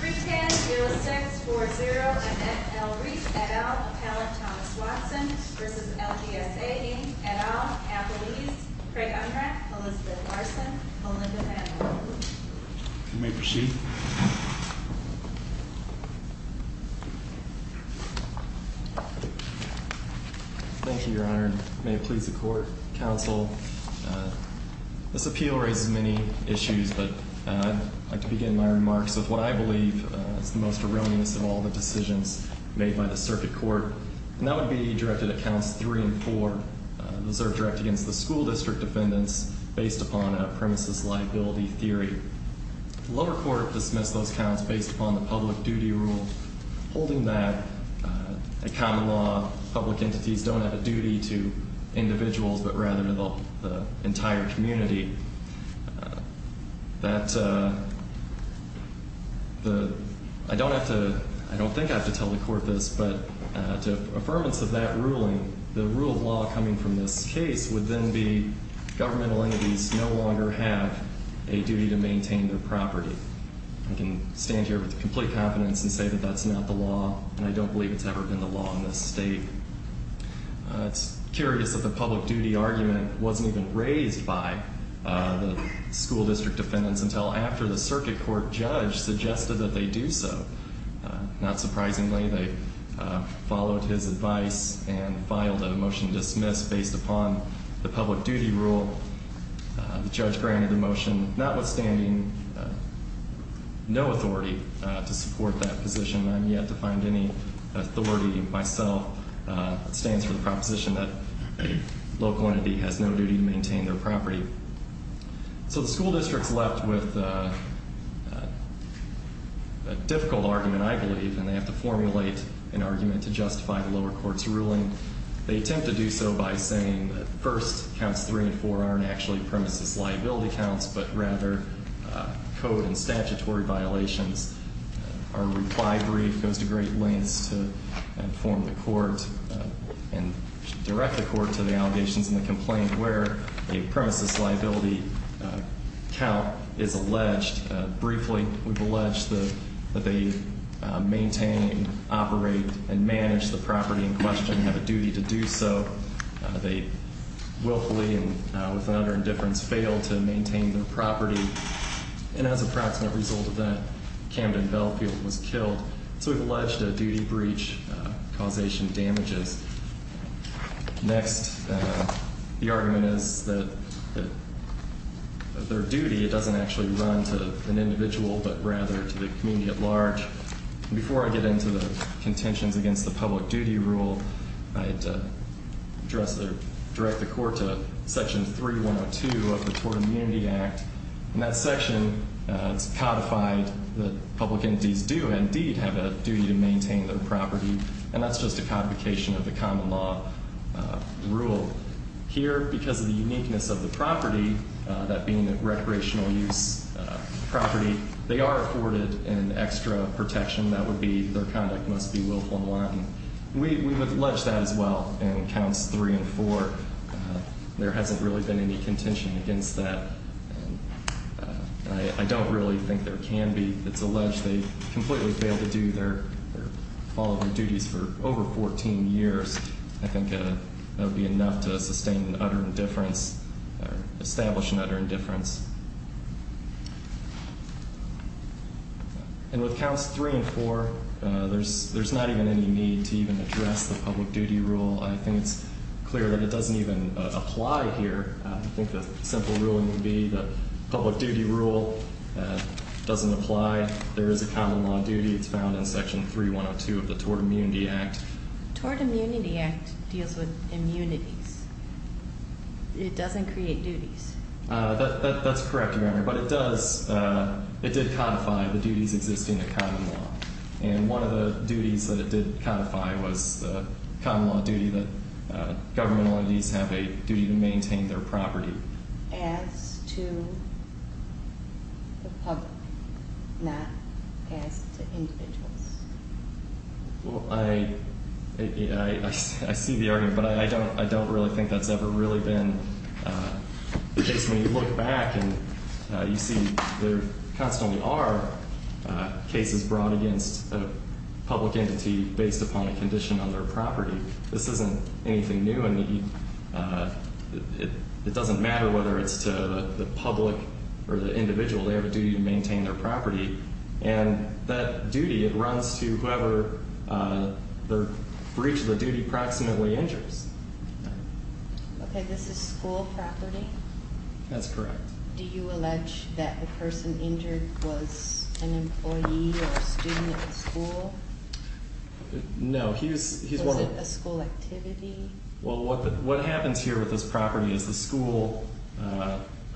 310-0640-NFL-Rees, et al., appellant Thomas Watson v. LGSA, dean, et al., appellees Craig Unrack, Elizabeth Larson, Olympia Maddow You may proceed Thank you, your honor, and may it please the court, counsel This appeal raises many issues, but I'd like to begin my remarks with what I believe is the most erroneous of all the decisions made by the circuit court And that would be directed at counts three and four Those are directed against the school district defendants based upon a premises liability theory The lower court dismissed those counts based upon the public duty rule Holding back a common law, public entities don't have a duty to individuals, but rather the entire community That, I don't have to, I don't think I have to tell the court this, but to affirmance of that ruling The rule of law coming from this case would then be governmental entities no longer have a duty to maintain their property I can stand here with complete confidence and say that that's not the law, and I don't believe it's ever been the law in this state It's curious that the public duty argument wasn't even raised by the school district defendants until after the circuit court judge suggested that they do so Not surprisingly, they followed his advice and filed a motion to dismiss based upon the public duty rule The judge granted the motion, notwithstanding no authority to support that position I'm yet to find any authority myself that stands for the proposition that a local entity has no duty to maintain their property So the school district's left with a difficult argument, I believe, and they have to formulate an argument to justify the lower court's ruling They attempt to do so by saying that first counts three and four aren't actually premises liability counts, but rather code and statutory violations Our reply brief goes to great lengths to inform the court and direct the court to the allegations and the complaint where a premises liability count is alleged Briefly, we've alleged that they maintain, operate, and manage the property in question and have a duty to do so They willfully and with an utter indifference fail to maintain their property, and as a proximate result of that, Camden Bellfield was killed So we've alleged a duty breach causation damages Next, the argument is that their duty doesn't actually run to an individual, but rather to the community at large Before I get into the contentions against the public duty rule, I'd direct the court to section 3102 of the Tort Immunity Act In that section, it's codified that public entities do indeed have a duty to maintain their property, and that's just a codification of the common law rule Here, because of the uniqueness of the property, that being a recreational use property, they are afforded an extra protection That would be their conduct must be willful and wanton We've alleged that as well in counts 3 and 4. There hasn't really been any contention against that I don't really think there can be. It's alleged they completely fail to do their, or follow their duties for over 14 years I think that would be enough to sustain an utter indifference, or establish an utter indifference And with counts 3 and 4, there's not even any need to even address the public duty rule I think it's clear that it doesn't even apply here I think the simple ruling would be the public duty rule doesn't apply There is a common law duty. It's found in section 3102 of the Tort Immunity Act The Tort Immunity Act deals with immunities. It doesn't create duties That's correct, Your Honor. But it does, it did codify the duties existing in common law And one of the duties that it did codify was the common law duty that governmental entities have a duty to maintain their property As to the public, not as to individuals Well, I see the argument, but I don't really think that's ever really been the case When you look back and you see there constantly are cases brought against a public entity based upon a condition on their property This isn't anything new, and it doesn't matter whether it's to the public or the individual They have a duty to maintain their property, and that duty runs to whoever the breach of the duty proximately injures Okay, this is school property? That's correct Do you allege that the person injured was an employee or a student at the school? No, he was... Was it a school activity? Well, what happens here with this property is the school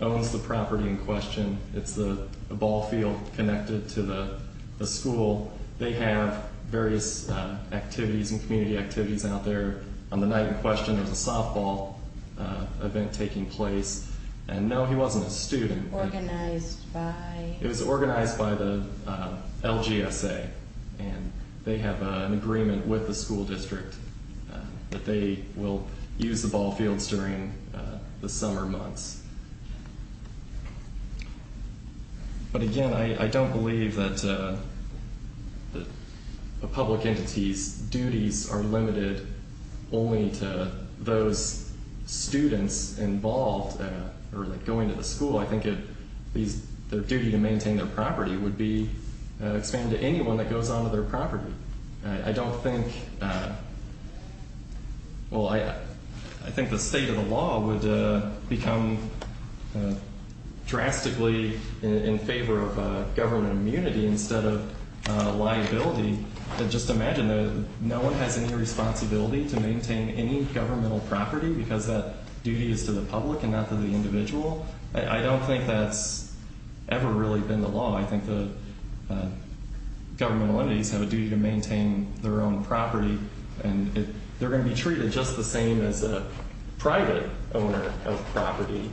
owns the property in question It's the ball field connected to the school They have various activities and community activities out there On the night in question, there's a softball event taking place And no, he wasn't a student Organized by... It was organized by the LGSA And they have an agreement with the school district that they will use the ball fields during the summer months But again, I don't believe that a public entity's duties are limited only to those students involved Or going to the school, I think their duty to maintain their property would be expanded to anyone that goes onto their property I don't think... Well, I think the state of the law would become drastically in favor of government immunity instead of liability Just imagine that no one has any responsibility to maintain any governmental property Because that duty is to the public and not to the individual I don't think that's ever really been the law I think the governmental entities have a duty to maintain their own property And they're going to be treated just the same as a private owner of property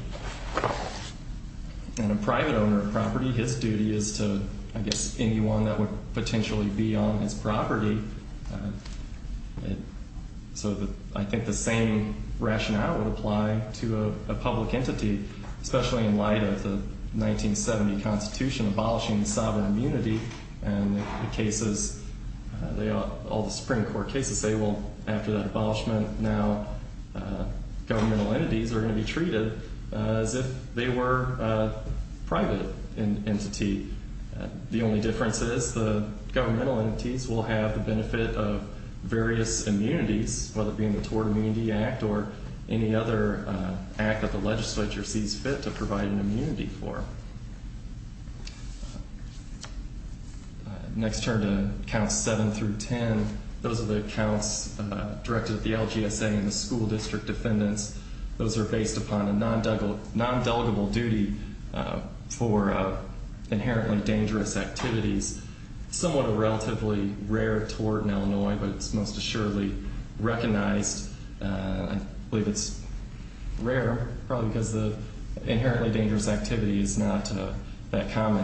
And a private owner of property, his duty is to, I guess, anyone that would potentially be on his property So I think the same rationale would apply to a public entity Especially in light of the 1970 constitution abolishing sovereign immunity And the cases, all the Supreme Court cases say, well, after that abolishment Now governmental entities are going to be treated as if they were a private entity The only difference is the governmental entities will have the benefit of various immunities Whether it be in the Tort Immunity Act or any other act that the legislature sees fit to provide an immunity for Next turn to counts 7 through 10 Those are the counts directed at the LGSA and the school district defendants Those are based upon a non-delegable duty for inherently dangerous activities Somewhat a relatively rare tort in Illinois, but it's most assuredly recognized I believe it's rare, probably because the inherently dangerous activity is not that common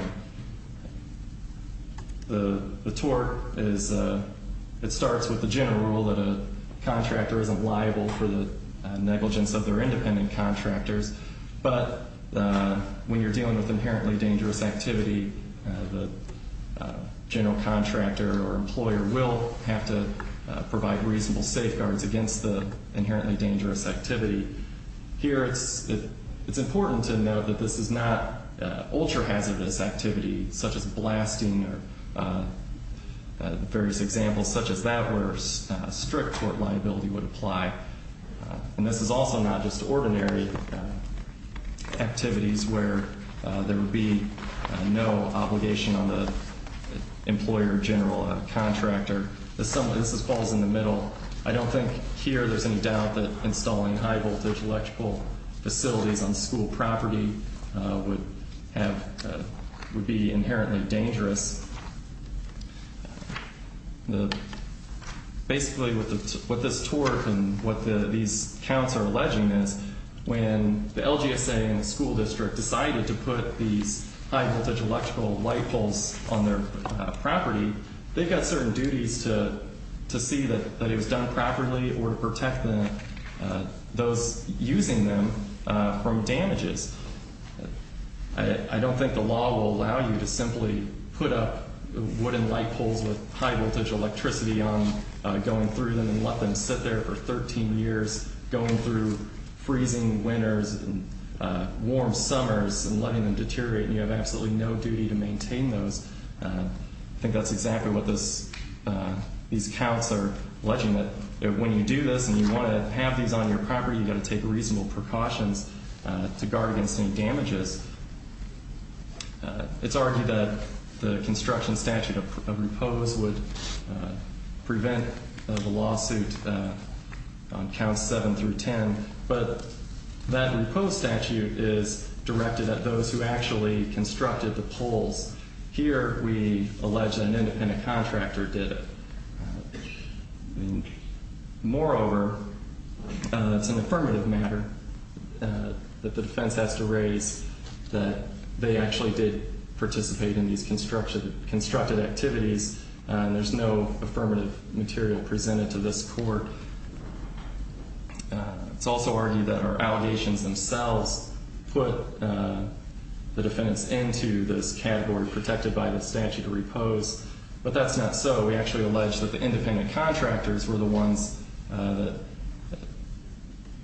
The tort is, it starts with the general rule that a contractor isn't liable for the negligence of their independent contractors But when you're dealing with inherently dangerous activity The general contractor or employer will have to provide reasonable safeguards against the inherently dangerous activity Here it's important to note that this is not ultra-hazardous activity Such as blasting or various examples such as that where strict tort liability would apply And this is also not just ordinary activities where there would be no obligation on the employer, general, or contractor This falls in the middle I don't think here there's any doubt that installing high-voltage electrical facilities on school property would be inherently dangerous Basically what this tort and what these counts are alleging is When the LGSA and the school district decided to put these high-voltage electrical light poles on their property They've got certain duties to see that it was done properly or to protect those using them from damages I don't think the law will allow you to simply put up wooden light poles with high-voltage electricity on them Going through them and let them sit there for 13 years Going through freezing winters and warm summers and letting them deteriorate And you have absolutely no duty to maintain those I think that's exactly what these counts are alleging When you do this and you want to have these on your property, you've got to take reasonable precautions to guard against any damages It's argued that the construction statute of repose would prevent the lawsuit on counts 7 through 10 But that repose statute is directed at those who actually constructed the poles Here we allege that an independent contractor did it Moreover, it's an affirmative matter that the defense has to raise That they actually did participate in these constructed activities And there's no affirmative material presented to this court It's also argued that our allegations themselves put the defense into this category protected by the statute of repose But that's not so We actually allege that the independent contractors were the ones that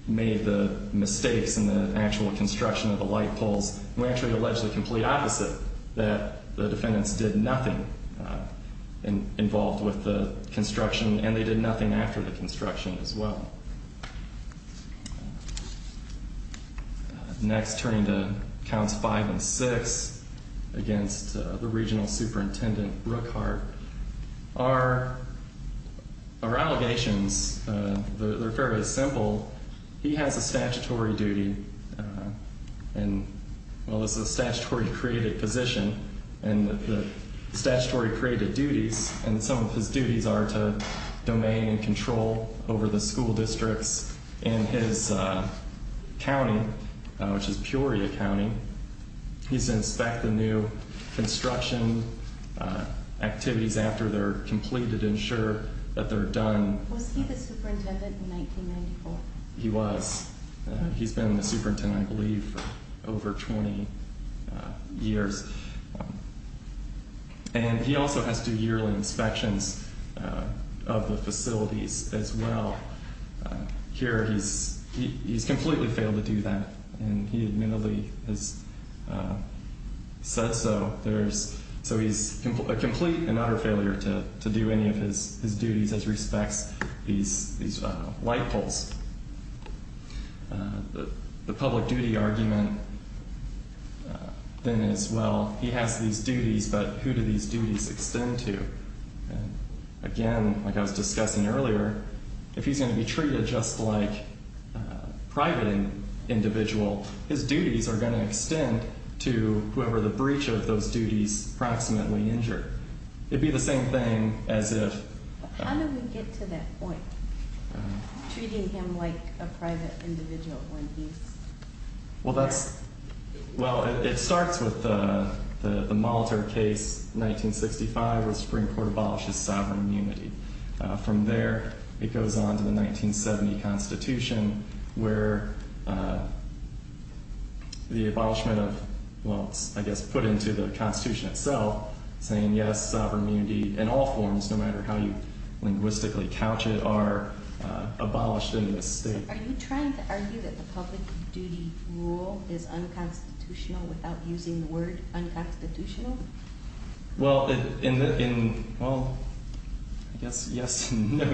made the mistakes in the actual construction of the light poles We actually allege the complete opposite That the defendants did nothing involved with the construction And they did nothing after the construction as well Next, turning to counts 5 and 6 against the regional superintendent, Rookhart Our allegations, they're fairly simple He has a statutory duty Well, this is a statutory created position And the statutory created duties And some of his duties are to domain and control over the school districts And his county, which is Peoria County He's inspecting new construction activities after they're completed Ensure that they're done Was he the superintendent in 1994? He was He's been the superintendent, I believe, for over 20 years And he also has to yearly inspections of the facilities as well Here, he's completely failed to do that And he admittedly has said so So he's a complete and utter failure to do any of his duties as respects these light poles The public duty argument then is, well, he has these duties But who do these duties extend to? Again, like I was discussing earlier If he's going to be treated just like a private individual His duties are going to extend to whoever the breach of those duties approximately injured It'd be the same thing as if How do we get to that point? Treating him like a private individual when he's... Well, that's... Well, it starts with the Molitor case, 1965 Where the Supreme Court abolishes sovereign immunity From there, it goes on to the 1970 Constitution Where the abolishment of... Well, it's, I guess, put into the Constitution itself Saying, yes, sovereign immunity in all forms No matter how you linguistically couch it Are abolished in this state Are you trying to argue that the public duty rule is unconstitutional Without using the word unconstitutional? Well, in the... Well, I guess, yes and no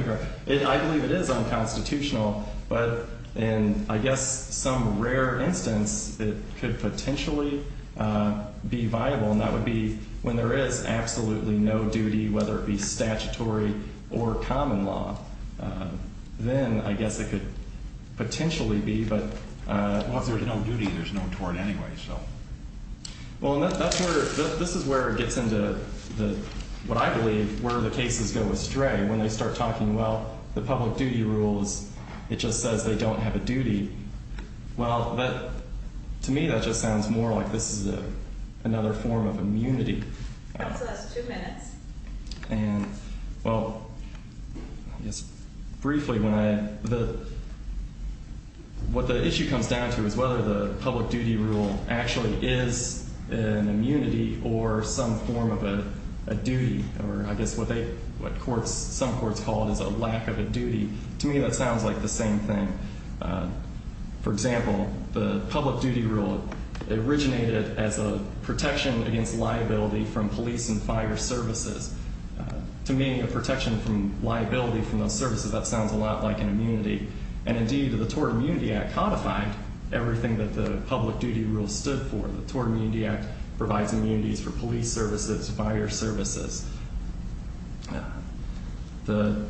I believe it is unconstitutional But in, I guess, some rare instance It could potentially be viable And that would be when there is absolutely no duty Whether it be statutory or common law Then, I guess, it could potentially be But... Well, if there's no duty, there's no tort anyway, so... Well, and that's where... This is where it gets into the... What I believe where the cases go astray When they start talking, well, the public duty rules It just says they don't have a duty Well, that... To me, that just sounds more like this is another form of immunity And, well... I guess, briefly, when I... The... What the issue comes down to is whether the public duty rule Actually is an immunity or some form of a duty Or, I guess, what courts... Some courts call it as a lack of a duty To me, that sounds like the same thing For example, the public duty rule Originated as a protection against liability From police and fire services To me, a protection from liability from those services That sounds a lot like an immunity And, indeed, the Tort Immunity Act codified Everything that the public duty rule stood for The Tort Immunity Act provides immunities for police services Fire services The...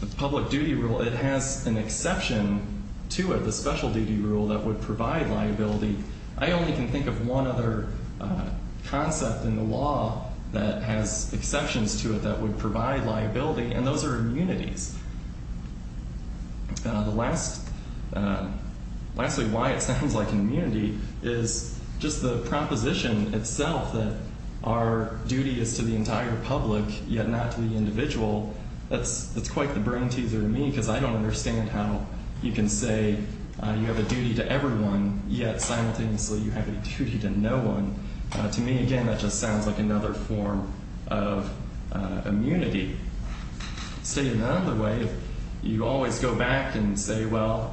The public duty rule, it has an exception to it The special duty rule that would provide liability I only can think of one other concept in the law That has exceptions to it that would provide liability And those are immunities The last... Lastly, why it sounds like an immunity Is just the proposition itself That our duty is to the entire public Yet not to the individual That's quite the brain teaser to me Because I don't understand how you can say You have a duty to everyone Yet, simultaneously, you have a duty to no one To me, again, that just sounds like another form of immunity Say it another way You always go back and say, well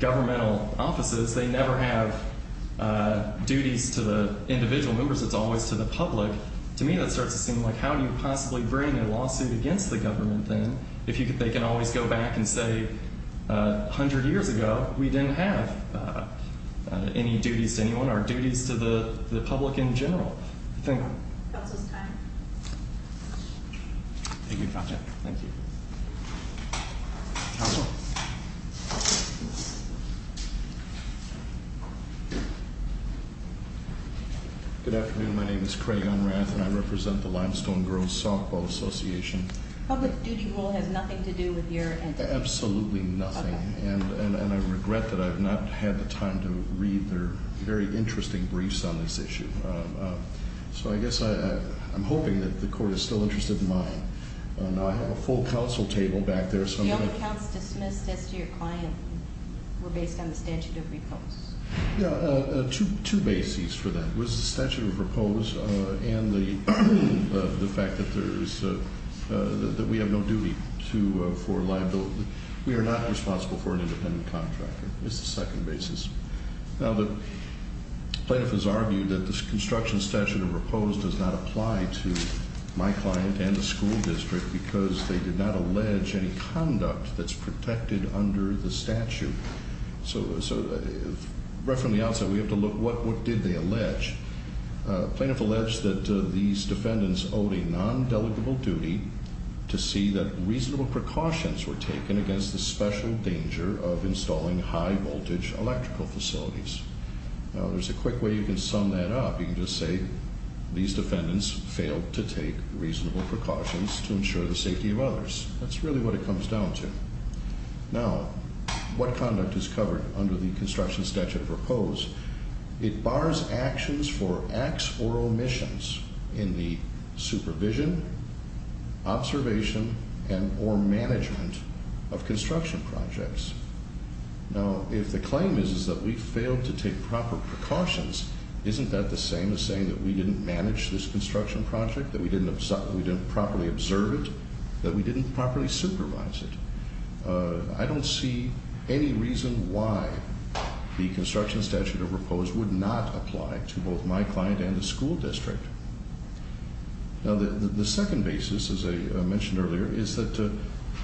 Governmental offices, they never have Duties to the individual members It's always to the public To me, that starts to seem like How do you possibly bring a lawsuit against the government then If they can always go back and say A hundred years ago, we didn't have Any duties to anyone Our duties to the public in general Thank you Counsel's time Thank you, counsel Thank you Counsel Good afternoon, my name is Craig Unrath And I represent the Limestone Girls Softball Association Public duty rule has nothing to do with your... Absolutely nothing And I regret that I've not had the time to read Their very interesting briefs on this issue So I guess I'm hoping that the court is still interested in mine And I have a full counsel table back there The only counts dismissed as to your client Were based on the statute of repose Yeah, two bases for that It was the statute of repose And the fact that there's... That we have no duty for liability We are not responsible for an independent contractor It's the second basis Now the plaintiff has argued that The construction statute of repose Does not apply to my client and the school district Because they did not allege any conduct That's protected under the statute So right from the outset we have to look What did they allege? The plaintiff alleged that these defendants Owed a non-delegable duty To see that reasonable precautions were taken Against the special danger Of installing high voltage electrical facilities Now there's a quick way you can sum that up You can just say These defendants failed to take reasonable precautions To ensure the safety of others That's really what it comes down to Now what conduct is covered Under the construction statute of repose? It bars actions for acts or omissions In the supervision, observation And or management of construction projects Now if the claim is That we failed to take proper precautions Isn't that the same as saying That we didn't manage this construction project? That we didn't properly observe it? That we didn't properly supervise it? I don't see any reason why The construction statute of repose Would not apply to both my client And the school district Now the second basis As I mentioned earlier Is that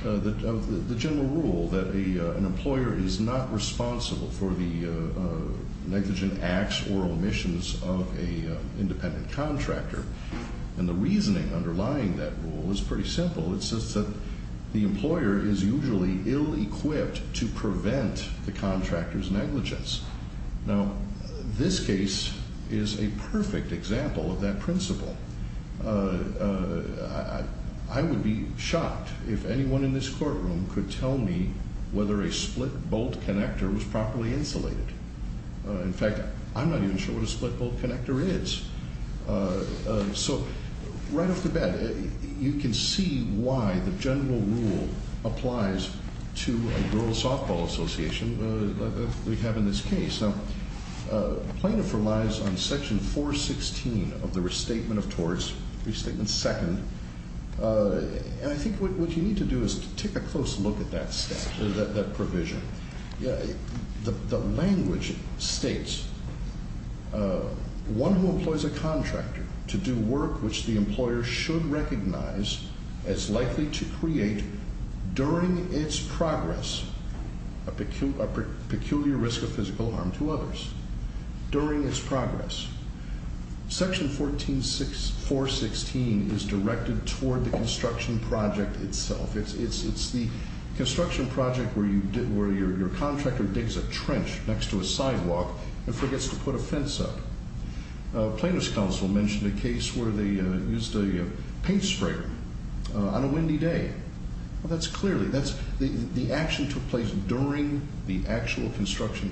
of the general rule That an employer is not responsible For the negligent acts or omissions Of an independent contractor And the reasoning underlying that rule Is pretty simple It's just that the employer is usually Ill-equipped to prevent The contractor's negligence Now this case Is a perfect example Of that principle I would be shocked If anyone in this courtroom Could tell me whether a split-bolt connector Was properly insulated In fact, I'm not even sure What a split-bolt connector is So, right off the bat You can see why The general rule applies To a rural softball association That we have in this case Now, plaintiff relies On section 416 Of the restatement of torts Restatement second And I think what you need to do Is take a close look at that provision The language states One who employs a contractor To do work which the employer Should recognize As likely to create During its progress A peculiar risk Of physical harm to others During its progress Section 416 Is directed toward The construction project itself It's the construction project Where your contractor Digs a trench next to a sidewalk And forgets to put a fence up Plaintiff's counsel mentioned A case where they used a paint sprayer On a windy day That's clearly The action took place During the actual construction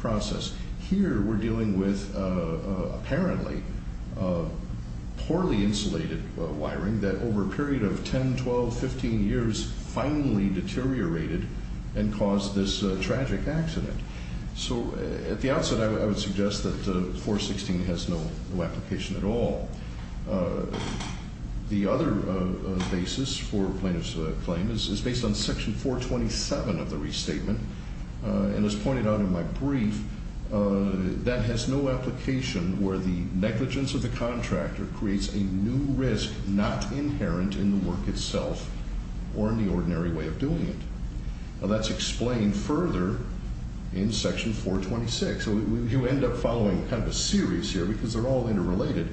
process Here we're dealing with Apparently Poorly insulated Wiring that over a period Of 10, 12, 15 years Finally deteriorated And caused this tragic accident So at the outset I would suggest that 416 Has no application at all The other Basis for plaintiff's claim Is based on section 427 Of the restatement And as pointed out in my brief That has no application Where the negligence of the contractor Creates a new risk Not inherent in the work itself Or in the ordinary way Of doing it Now that's explained further In section 426 You end up following kind of a series Here because they're all interrelated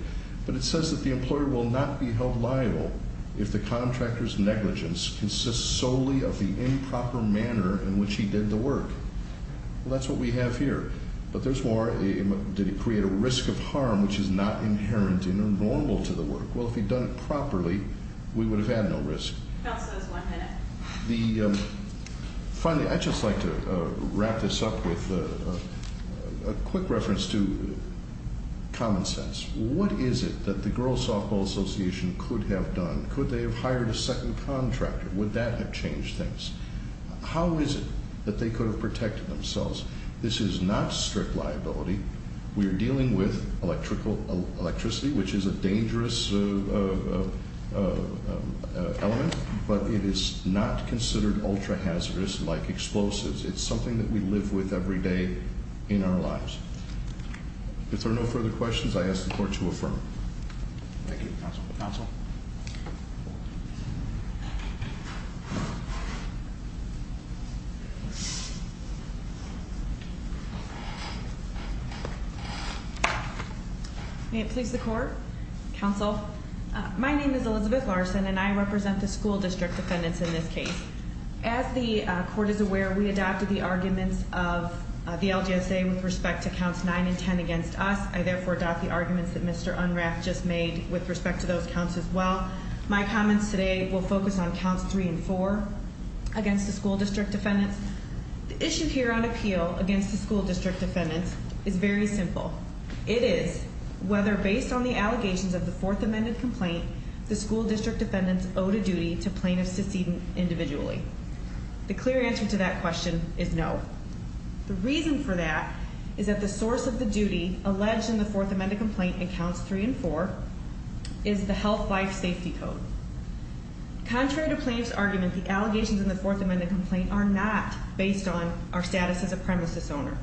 But it says that the employer will not be held liable If the contractor's Negligence consists solely of The improper manner in which he did The work. Well that's what we have Here. But there's more Did it create a risk of harm which is not Inherent in or normal to the work Well if he'd done it properly We would have had no risk Counsel is one minute Finally I'd just like to Wrap this up with A quick reference to Common sense What is it that the girls softball Association could have done Could they have hired a second contractor Would that have changed things How is it that they could have protected themselves This is not strict liability We are dealing with Electrical electricity Which is a dangerous Element But it is not considered Ultra hazardous like explosives It's something that we live with every day In our lives If there are no further questions I ask the court to affirm Thank you counsel May it please the court Counsel My name is Elizabeth Larson and I represent The school district defendants in this case As the court is aware We adopted the arguments of The LGSA with respect to counts Nine and ten against us I therefore adopt the arguments that Mr. Unrath Just made with respect to those counts as well My comments today will focus on Counts three and four Against the school district defendants The issue here on appeal against the school District defendants is very simple It is whether based on The allegations of the fourth amended complaint The school district defendants Owed a duty to plaintiffs succeeding individually The clear answer to that Question is no The reason for that is that the Source of the duty alleged in the fourth amended Complaint in counts three and four Is the health life safety code Contrary to Plaintiff's argument the allegations in the fourth amended Complaint are not based on Our status as a premises owner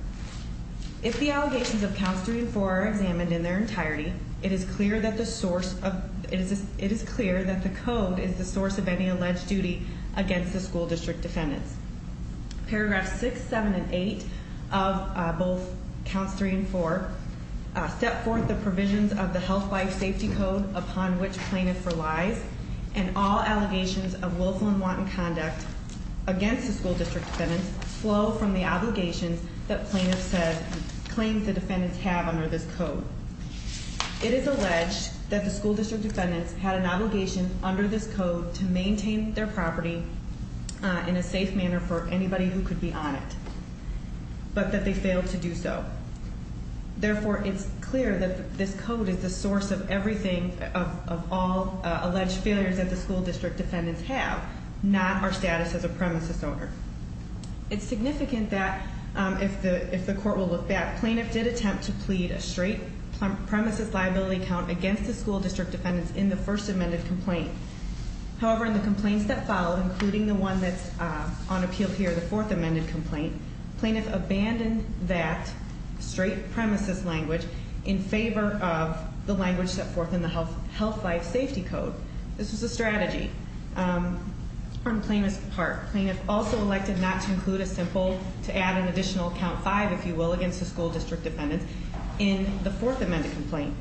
If the allegations of counts Three and four are examined in their entirety It is clear that the source of It is clear that the code Is the source of any alleged duty Against the school district defendants Paragraphs six, seven, and eight Of both Counts three and four Step forth the provisions of the health life Safety code upon which plaintiff Relies and all allegations Of willful and wanton conduct Against the school district defendants Flow from the obligations That plaintiff claims the defendants Have under this code It is alleged that the school District defendants had an obligation Under this code to maintain their property In a safe manner For anybody who could be on it But that they failed to do so Therefore it's Clear that this code is the source Of everything, of all Alleged failures that the school district Defendants have, not our status As a premises owner It's significant that If the court will look back, plaintiff did Attempt to plead a straight premises Liability count against the school district Defendants in the first amended complaint However, in the complaints that follow Including the one that's on appeal Here, the fourth amended complaint Plaintiff abandoned that Straight premises language In favor of the language Set forth in the health life safety code This was the strategy On plaintiff's part Plaintiff also elected not to include A simple, to add an additional count Five, if you will, against the school district defendants In the fourth amended complaint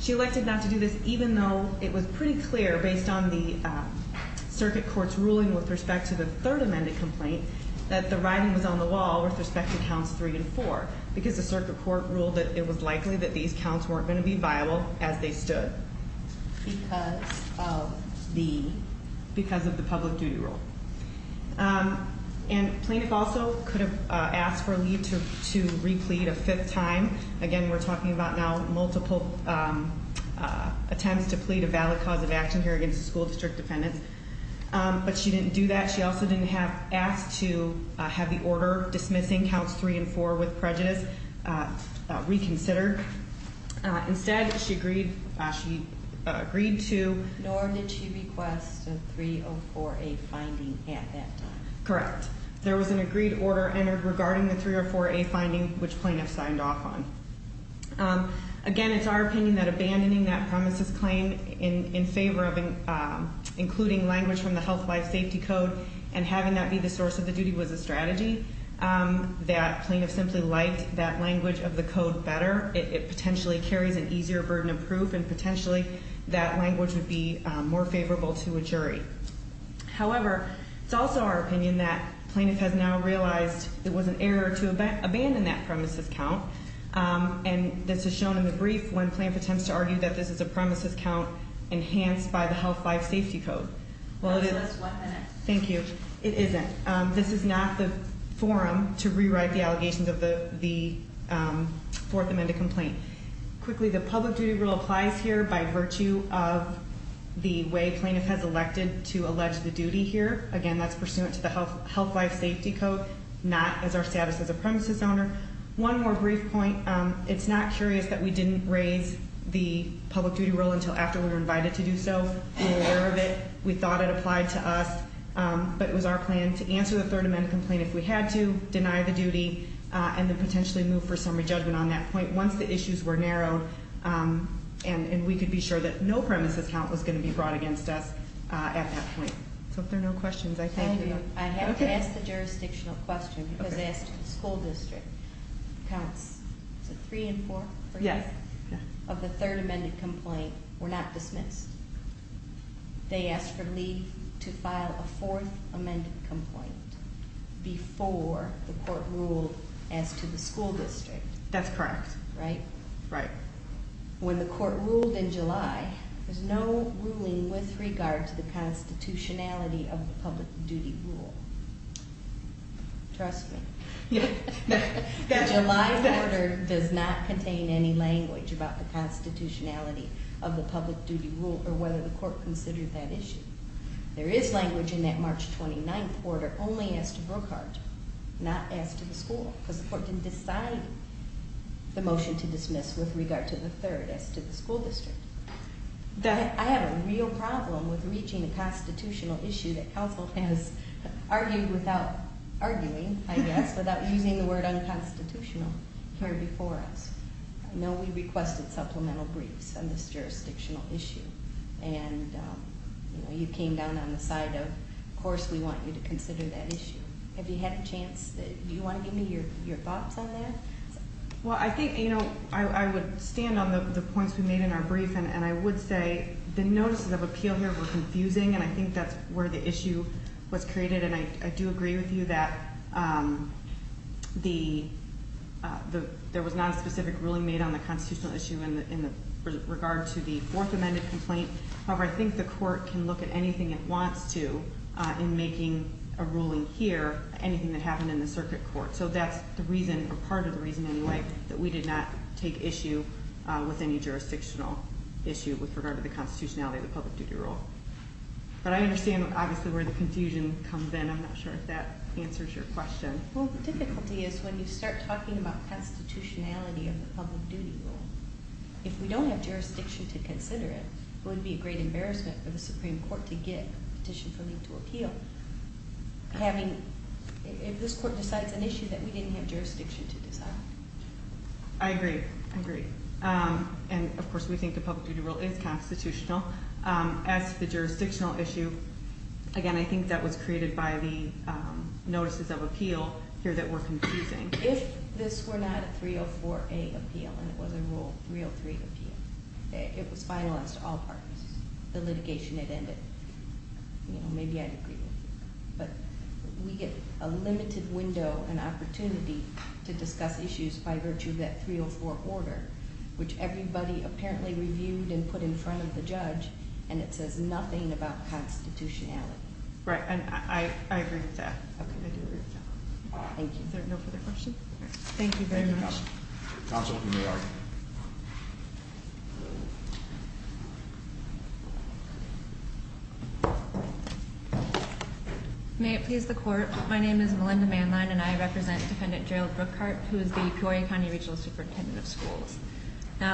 She elected not to do this Even though it was pretty clear Based on the circuit court's Ruling with respect to the third amended complaint That the writing was on the wall With respect to counts three and four Because the circuit court ruled that it was likely That these counts weren't going to be viable As they stood Because Of the Public duty rule And plaintiff also Could have asked for a leave to Replead a fifth time Again, we're talking about now multiple Attempts to plead A valid cause of action here against the school district Defendants, but she didn't do that She also didn't have asked to Have the order dismissing Counts three and four with prejudice Reconsidered Instead, she agreed She agreed to Nor did she request a three or four A finding at that time Correct, there was an agreed order Entered regarding the three or four A finding Which plaintiff signed off on Again, it's our opinion That abandoning that premises claim In favor of Including language from the health life safety code And having that be the source of the duty Was a strategy That plaintiff simply liked that language Of the code better It potentially carries an easier burden of proof And potentially that language would be More favorable to a jury However, it's also our opinion That plaintiff has now realized It was an error to abandon That premises count And this is shown in the brief when Plaintiff attempts to argue that this is a premises count Enhanced by the health life safety code Well, it is Thank you, it isn't This is not the forum to rewrite The allegations of the Fourth amended complaint Quickly, the public duty rule applies here By virtue of The way plaintiff has elected to Allege the duty here, again that's pursuant To the health life safety code Not as our status as a premises owner One more brief point It's not curious that we didn't raise The public duty rule until after We were invited to do so We thought it applied to us But it was our plan to answer the third Amended complaint on duty And then potentially move for summary judgment on that point Once the issues were narrowed And we could be sure that no premises count Was going to be brought against us At that point So if there are no questions, I thank you I have to ask the jurisdictional question Because I asked the school district Counts, is it three and four? Of the third amended complaint Were not dismissed They asked for leave To file a fourth amended complaint Before the court ruled As to the school district That's correct Right When the court ruled in July There's no ruling with regard to the Constitutionality of the public duty rule Trust me The July order Does not contain any language About the constitutionality of the public duty rule Or whether the court considered that issue There is language in that March 29th order only as to Brookhart Not as to the school Because the court didn't decide The motion to dismiss with regard to The third as to the school district I have a real problem With reaching a constitutional issue That counsel has Argued without arguing Without using the word unconstitutional Here before us I know we requested supplemental briefs On this jurisdictional issue And You came down on the side of Of course we want you to consider that issue Have you had a chance Do you want to give me your thoughts on that? Well I think I would stand on the points we made In our brief and I would say The notices of appeal here were confusing And I think that's where the issue Was created and I do agree with you that The There was Non-specific ruling made on the constitutional issue In regard to the Fourth amended complaint However I think the court can look at anything it wants to In making a ruling here Anything that happened in the circuit court So that's the reason Or part of the reason anyway That we did not take issue with any jurisdictional Issue with regard to the constitutionality Of the public duty rule But I understand obviously where the confusion Comes in I'm not sure if that answers your question Well the difficulty is When you start talking about constitutionality Of the public duty rule If we don't have jurisdiction to consider it It would be a great embarrassment For the supreme court to get a petition For me to appeal Having If this court decides an issue that we didn't have jurisdiction to decide I agree I agree And of course we think the public duty rule is constitutional As to the jurisdictional issue Again I think that was Created by the Notices of appeal here that were confusing If this were not a 304A appeal And it was a rule 303 appeal It was finalized to all parties The litigation had ended Maybe I'd agree with you But we get a limited window An opportunity to discuss Issues by virtue of that 304 order Which everybody apparently Reviewed and put in front of the judge And it says nothing about constitutionality Right And I agree with that Thank you Is there no further questions Thank you very much May it please the court My name is Melinda Manline and I represent Defendant Gerald Brookhart Who is the Peoria County Regional Superintendent of Schools There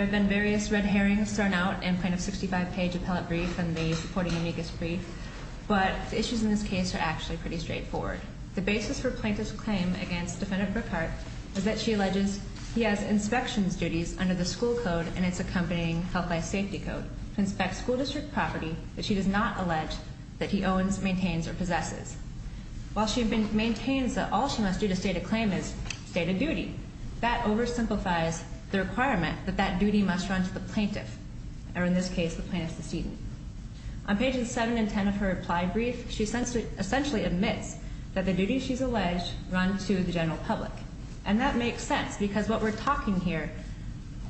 have been various red herrings thrown out In plaintiff's 65 page appellate brief And the supporting amicus brief But the issues in this case are actually pretty straightforward The basis for plaintiff's claim Against Defendant Brookhart Is that she alleges he has inspections duties Under the school code and its accompanying Health and safety code To inspect school district property That she does not allege that he owns, maintains, or possesses While she maintains That all she must do to state a claim is State a duty That oversimplifies the requirement That that duty must run to the plaintiff Or in this case the plaintiff's decedent On pages 7 and 10 of her reply brief She essentially admits That the duty she's alleged Run to the general public And that makes sense because what we're talking here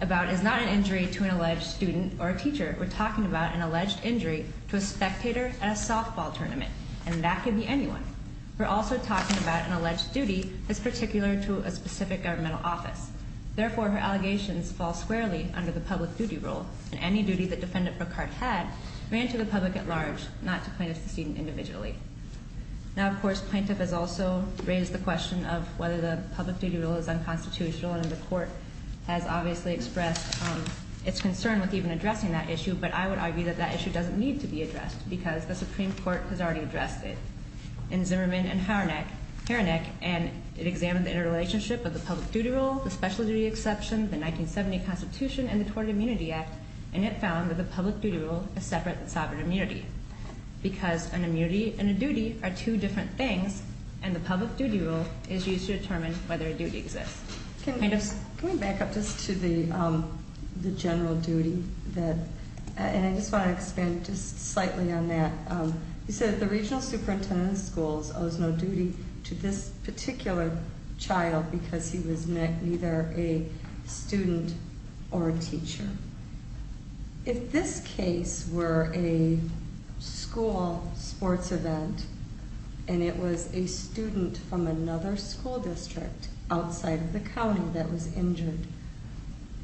About is not an injury to an alleged Student or a teacher We're talking about an alleged injury To a spectator at a softball tournament And that could be anyone We're also talking about an alleged duty That's particular to a specific governmental office Therefore her allegations fall squarely Under the public duty rule And any duty that Defendant Brookhart had Ran to the public at large Not to plaintiff's decedent individually Now of course plaintiff has also Raised the question of whether the public duty rule Is unconstitutional and the court Has obviously expressed Its concern with even addressing that issue But I would argue that that issue doesn't need to be addressed Because the Supreme Court has already addressed it In Zimmerman and Harnack And it examined The interrelationship of the public duty rule The special duty exception, the 1970 constitution And the Tort Immunity Act And it found that the public duty rule Is separate from sovereign immunity Because an immunity and a duty Are two different things And the public duty rule is used to determine Whether a duty exists Can we back up just to the General duty And I just want to expand Just slightly on that You said the regional superintendent of schools Owes no duty to this particular Child because he was Neither a student Or a teacher If this case Were a school Sports event And it was a student From another school district Outside of the county that was injured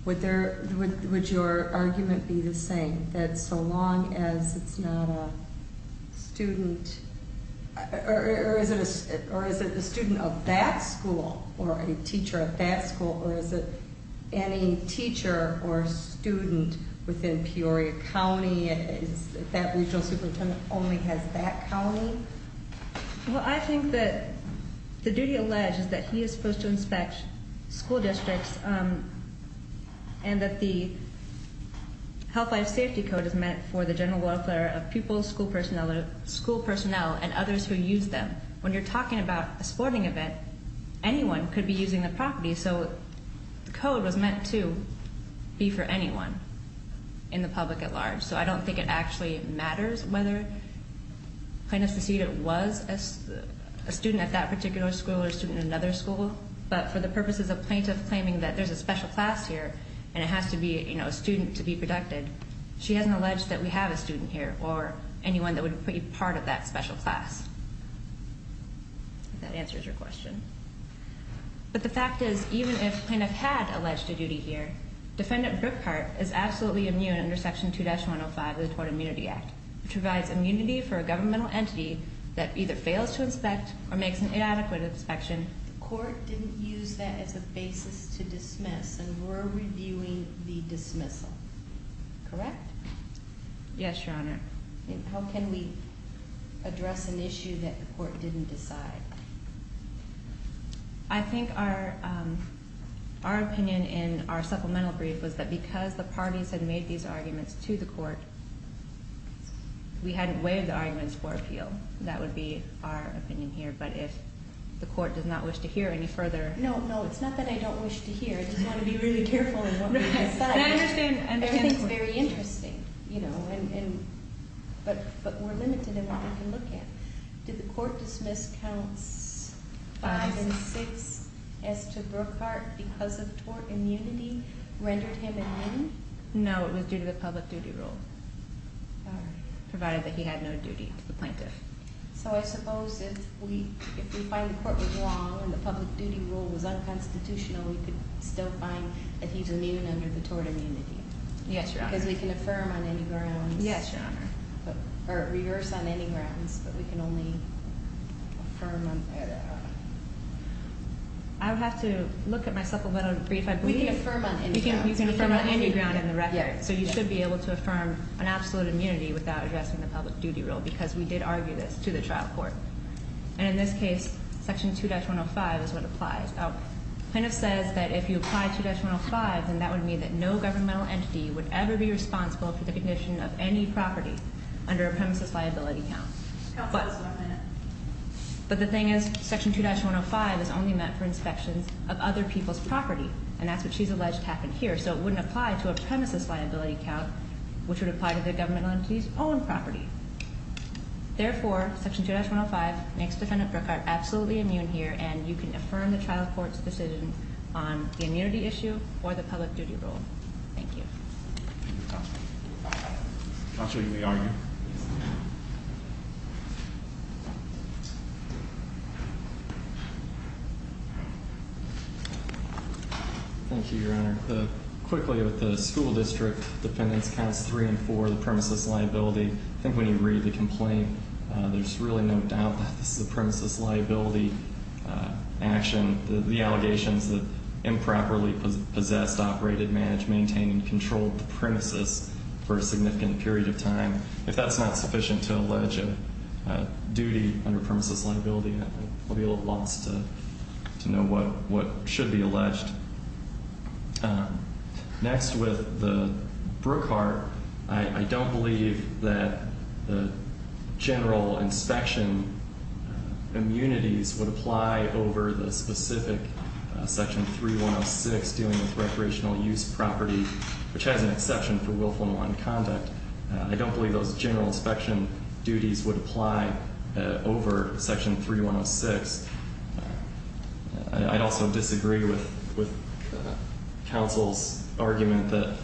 Would there Would your argument be the same That so long as it's not A student Or is it A student of that school Or a teacher of that school Or is it Any teacher or student Within Peoria County If that regional superintendent Only has that county Well I think that The duty alleged is that he is supposed to Inspect school districts And that the Health life safety code Is meant for the general welfare Of people, school personnel And others who use them When you're talking about a sporting event And that anyone Could be using the property So the code was meant to Be for anyone In the public at large So I don't think it actually matters Whether the plaintiff Was a student at that particular school Or a student at another school But for the purposes of plaintiff claiming That there's a special class here And it has to be a student to be protected She hasn't alleged that we have a student here Or anyone that would be part of that special class If that answers your question But the fact is Even if plaintiff had Alleged a duty here Defendant Brookhart is absolutely immune Under section 2-105 of the Tort Immunity Act Which provides immunity for a governmental entity That either fails to inspect Or makes an inadequate inspection The court didn't use that as a basis To dismiss And we're reviewing the dismissal Correct? Yes your honor How can we Address an issue that the court Didn't decide? I think our Our opinion in our Supplemental brief was that because the parties Had made these arguments to the court We hadn't Waived the arguments for appeal That would be our opinion here But if the court does not wish to hear any further No, it's not that I don't wish to hear I just want to be really careful Everything's very interesting You know But we're limited in what we can look at Did the court dismiss Counts 5 and 6 As to Brookhart Because of tort immunity Rendered him immune? No, it was due to the public duty rule Provided that he had no duty To the plaintiff So I suppose if we find the court was wrong And the public duty rule was unconstitutional We could still find That he's immune under the tort immunity Yes, your honor Because we can affirm on any grounds Yes, your honor Or reverse on any grounds But we can only affirm I would have to Look at my supplemental brief We can affirm on any grounds You can affirm on any ground in the record So you should be able to affirm an absolute immunity Without addressing the public duty rule Because we did argue this to the trial court And in this case Section 2-105 is what applies Plaintiff says that If you apply 2-105 Then that would mean that no governmental entity Would ever be responsible for the condition of any property Under a premises liability count But But the thing is Section 2-105 is only meant for inspections Of other people's property And that's what she's alleged happened here So it wouldn't apply to a premises liability count Which would apply to the governmental entity's own property Therefore Section 2-105 makes defendant Brookhart Absolutely immune here And you can affirm the trial court's decision On the immunity issue Or the public duty rule Thank you Counsel, you may argue Thank you, your honor Quickly with the school district Defendants counts 3 and 4 The premises liability I think when you read the complaint There's really no doubt That this is a premises liability Action The allegations that improperly Possessed, operated, managed, maintained And controlled the premises For a significant period of time If that's not sufficient to allege A duty under premises liability I'll be a little lost To know what should be alleged Next with the Brookhart I don't believe that The general Inspection Immunities would apply over The specific section 3-106 dealing with recreational Use property which has an exception For willful nonconduct I don't believe those general inspection Duties would apply Over section 3-106 I'd also Disagree with Counsel's argument That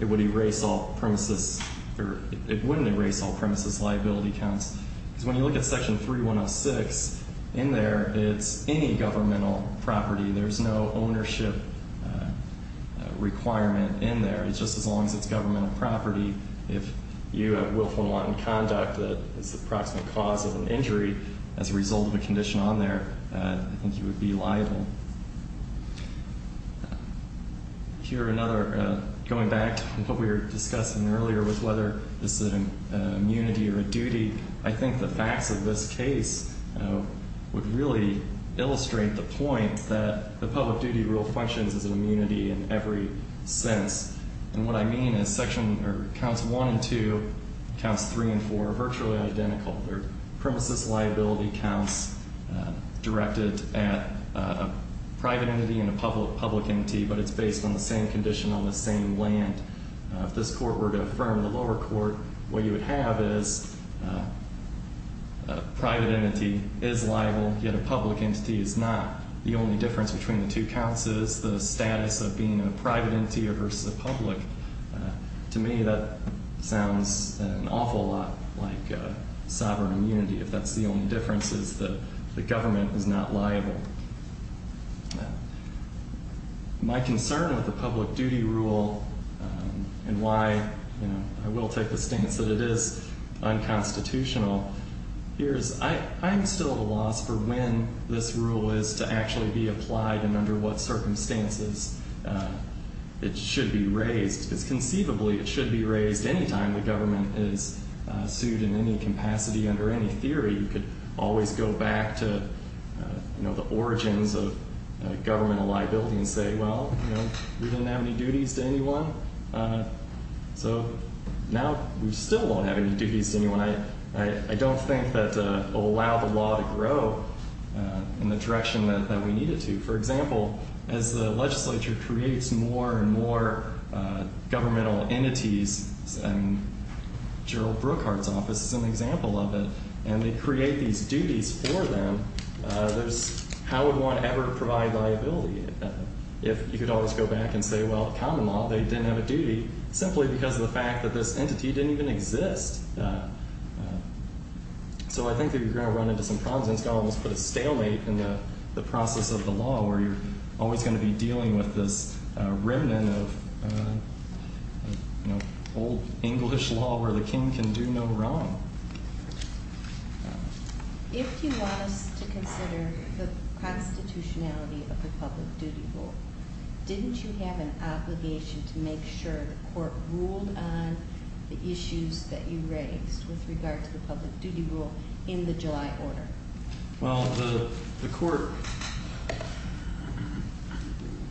it would erase All premises Or it wouldn't erase all premises liability Counts because when you look at section 3-106 in there It's any governmental property There's no ownership Requirement in there It's just as long as it's governmental property If you have willful Nonconduct that is the approximate Cause of an injury as a result Of a condition on there I think you would be liable Going back to what we were Discussing earlier with whether This is an immunity or a duty I think the facts of this case Would really Illustrate the point that The public duty rule functions as an immunity In every sense And what I mean is section Counts 1 and 2, counts 3 and 4 Are virtually identical They're premises liability counts Directed at A private entity and a public Entity but it's based on the same condition On the same land If this court were to affirm the lower court What you would have is A private entity Is liable yet a public entity Is not. The only difference between the two Counts is the status of being A private entity versus a public To me that Sounds an awful lot Like sovereign immunity If that's the only difference is that The government is not liable My concern with the public duty rule And why I will take the stance that it is Unconstitutional Here is I'm still At a loss for when this rule Is to actually be applied and under what Circumstances It should be raised Because conceivably it should be raised Anytime the government is sued In any capacity under any theory You could always go back to The origins of Governmental liability and say well We didn't have any duties to anyone So Now we still won't have any duties To anyone. I don't think that Will allow the law to grow In the direction that we Need it to. For example as the Legislature creates more and more Governmental entities And Gerald Brookhart's office is an example Of it and they create these duties For them There's how would one Ever provide liability If you could always go back and say well Common law they didn't have a duty Simply because of the fact that this entity didn't even Exist So I think that you're going to run into Some problems and it's going to almost put a stalemate In the process of the law where you're Always going to be dealing with this Remnant of Old English law where the king can do no wrong So If you want us to consider The constitutionality Of the public duty rule Didn't you have an obligation To make sure the court ruled on The issues that you raised With regard to the public duty rule In the July order Well the court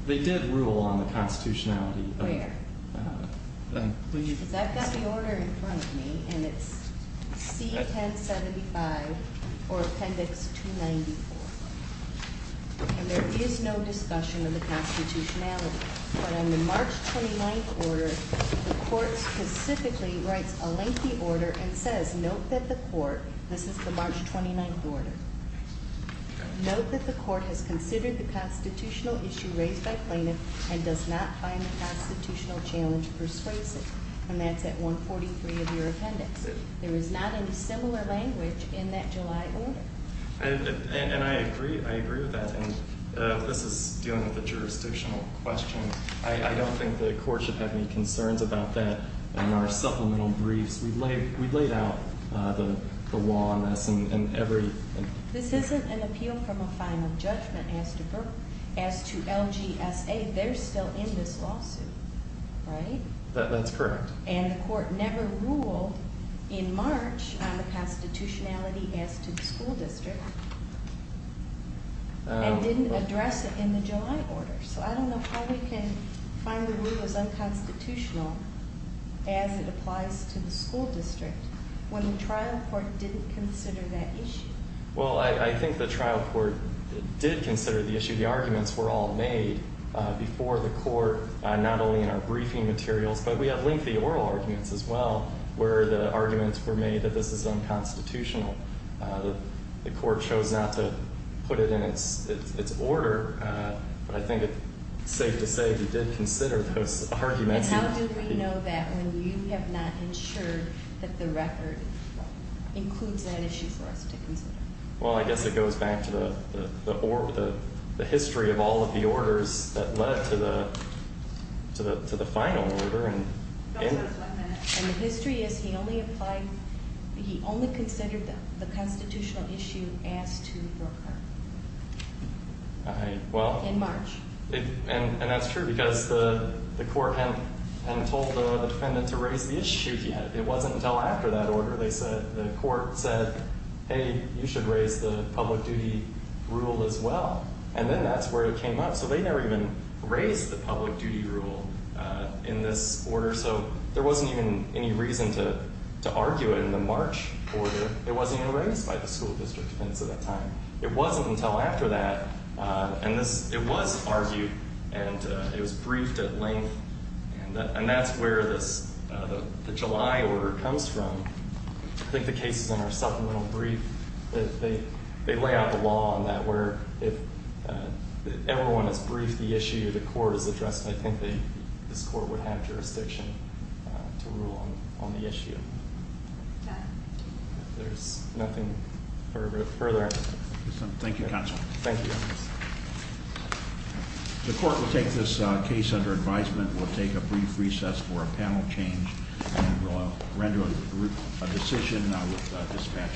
They did rule on the constitutionality Where? Because I've got the order In front of me and it's C1075 Or appendix 294 And there is No discussion of the constitutionality But on the March 29th Order the court Specifically writes a lengthy order And says note that the court This is the March 29th order Note that the court Has considered the constitutional issue Raised by plaintiff and does not find The constitutional challenge persuasive And that's at 143 of your appendix There is not any similar Language in that July order And I agree I agree with that and this is Dealing with a jurisdictional question I don't think the court should have any Concerns about that in our supplemental Briefs we laid out The law on this And every This isn't an appeal from a final judgment As to LGSA They're still in this lawsuit Right? That's correct And the court never ruled In March on the constitutionality As to the school district And didn't address it in the July order So I don't know how we can Find the rule as unconstitutional As it applies to The school district when the trial Court didn't consider that issue Well I think the trial court Did consider the issue The arguments were all made Before the court Not only in our briefing materials But we have lengthy oral arguments as well Where the arguments were made That this is unconstitutional The court chose not to Put it in its order But I think it's safe to say We did consider those arguments And how do we know that When you have not ensured That the record includes That issue for us to consider Well I guess it goes back to the The history of all of the Orders that led to the To the final order And the history is He only applied He only considered the Constitutional issue as to Brokaw In March And that's true because the Court hadn't told the defendant To raise the issue yet It wasn't until after that order They said the court said Hey you should raise the Public duty rule as well And then that's where it came up So they never even raised the public duty rule In this order So there wasn't even any reason To argue it in the March order It wasn't even raised by the school district Defendants at that time It wasn't until after that And it was argued And it was briefed at length And that's where this The July order comes from I think the cases in our supplemental brief They lay out The law on that where If everyone has briefed the issue The court has addressed it I think this court would have jurisdiction To rule on the issue There's nothing further Thank you counsel Thank you The court will take this case Under advisement. We'll take a brief Recess for a panel change And we'll render a decision And I will dispatch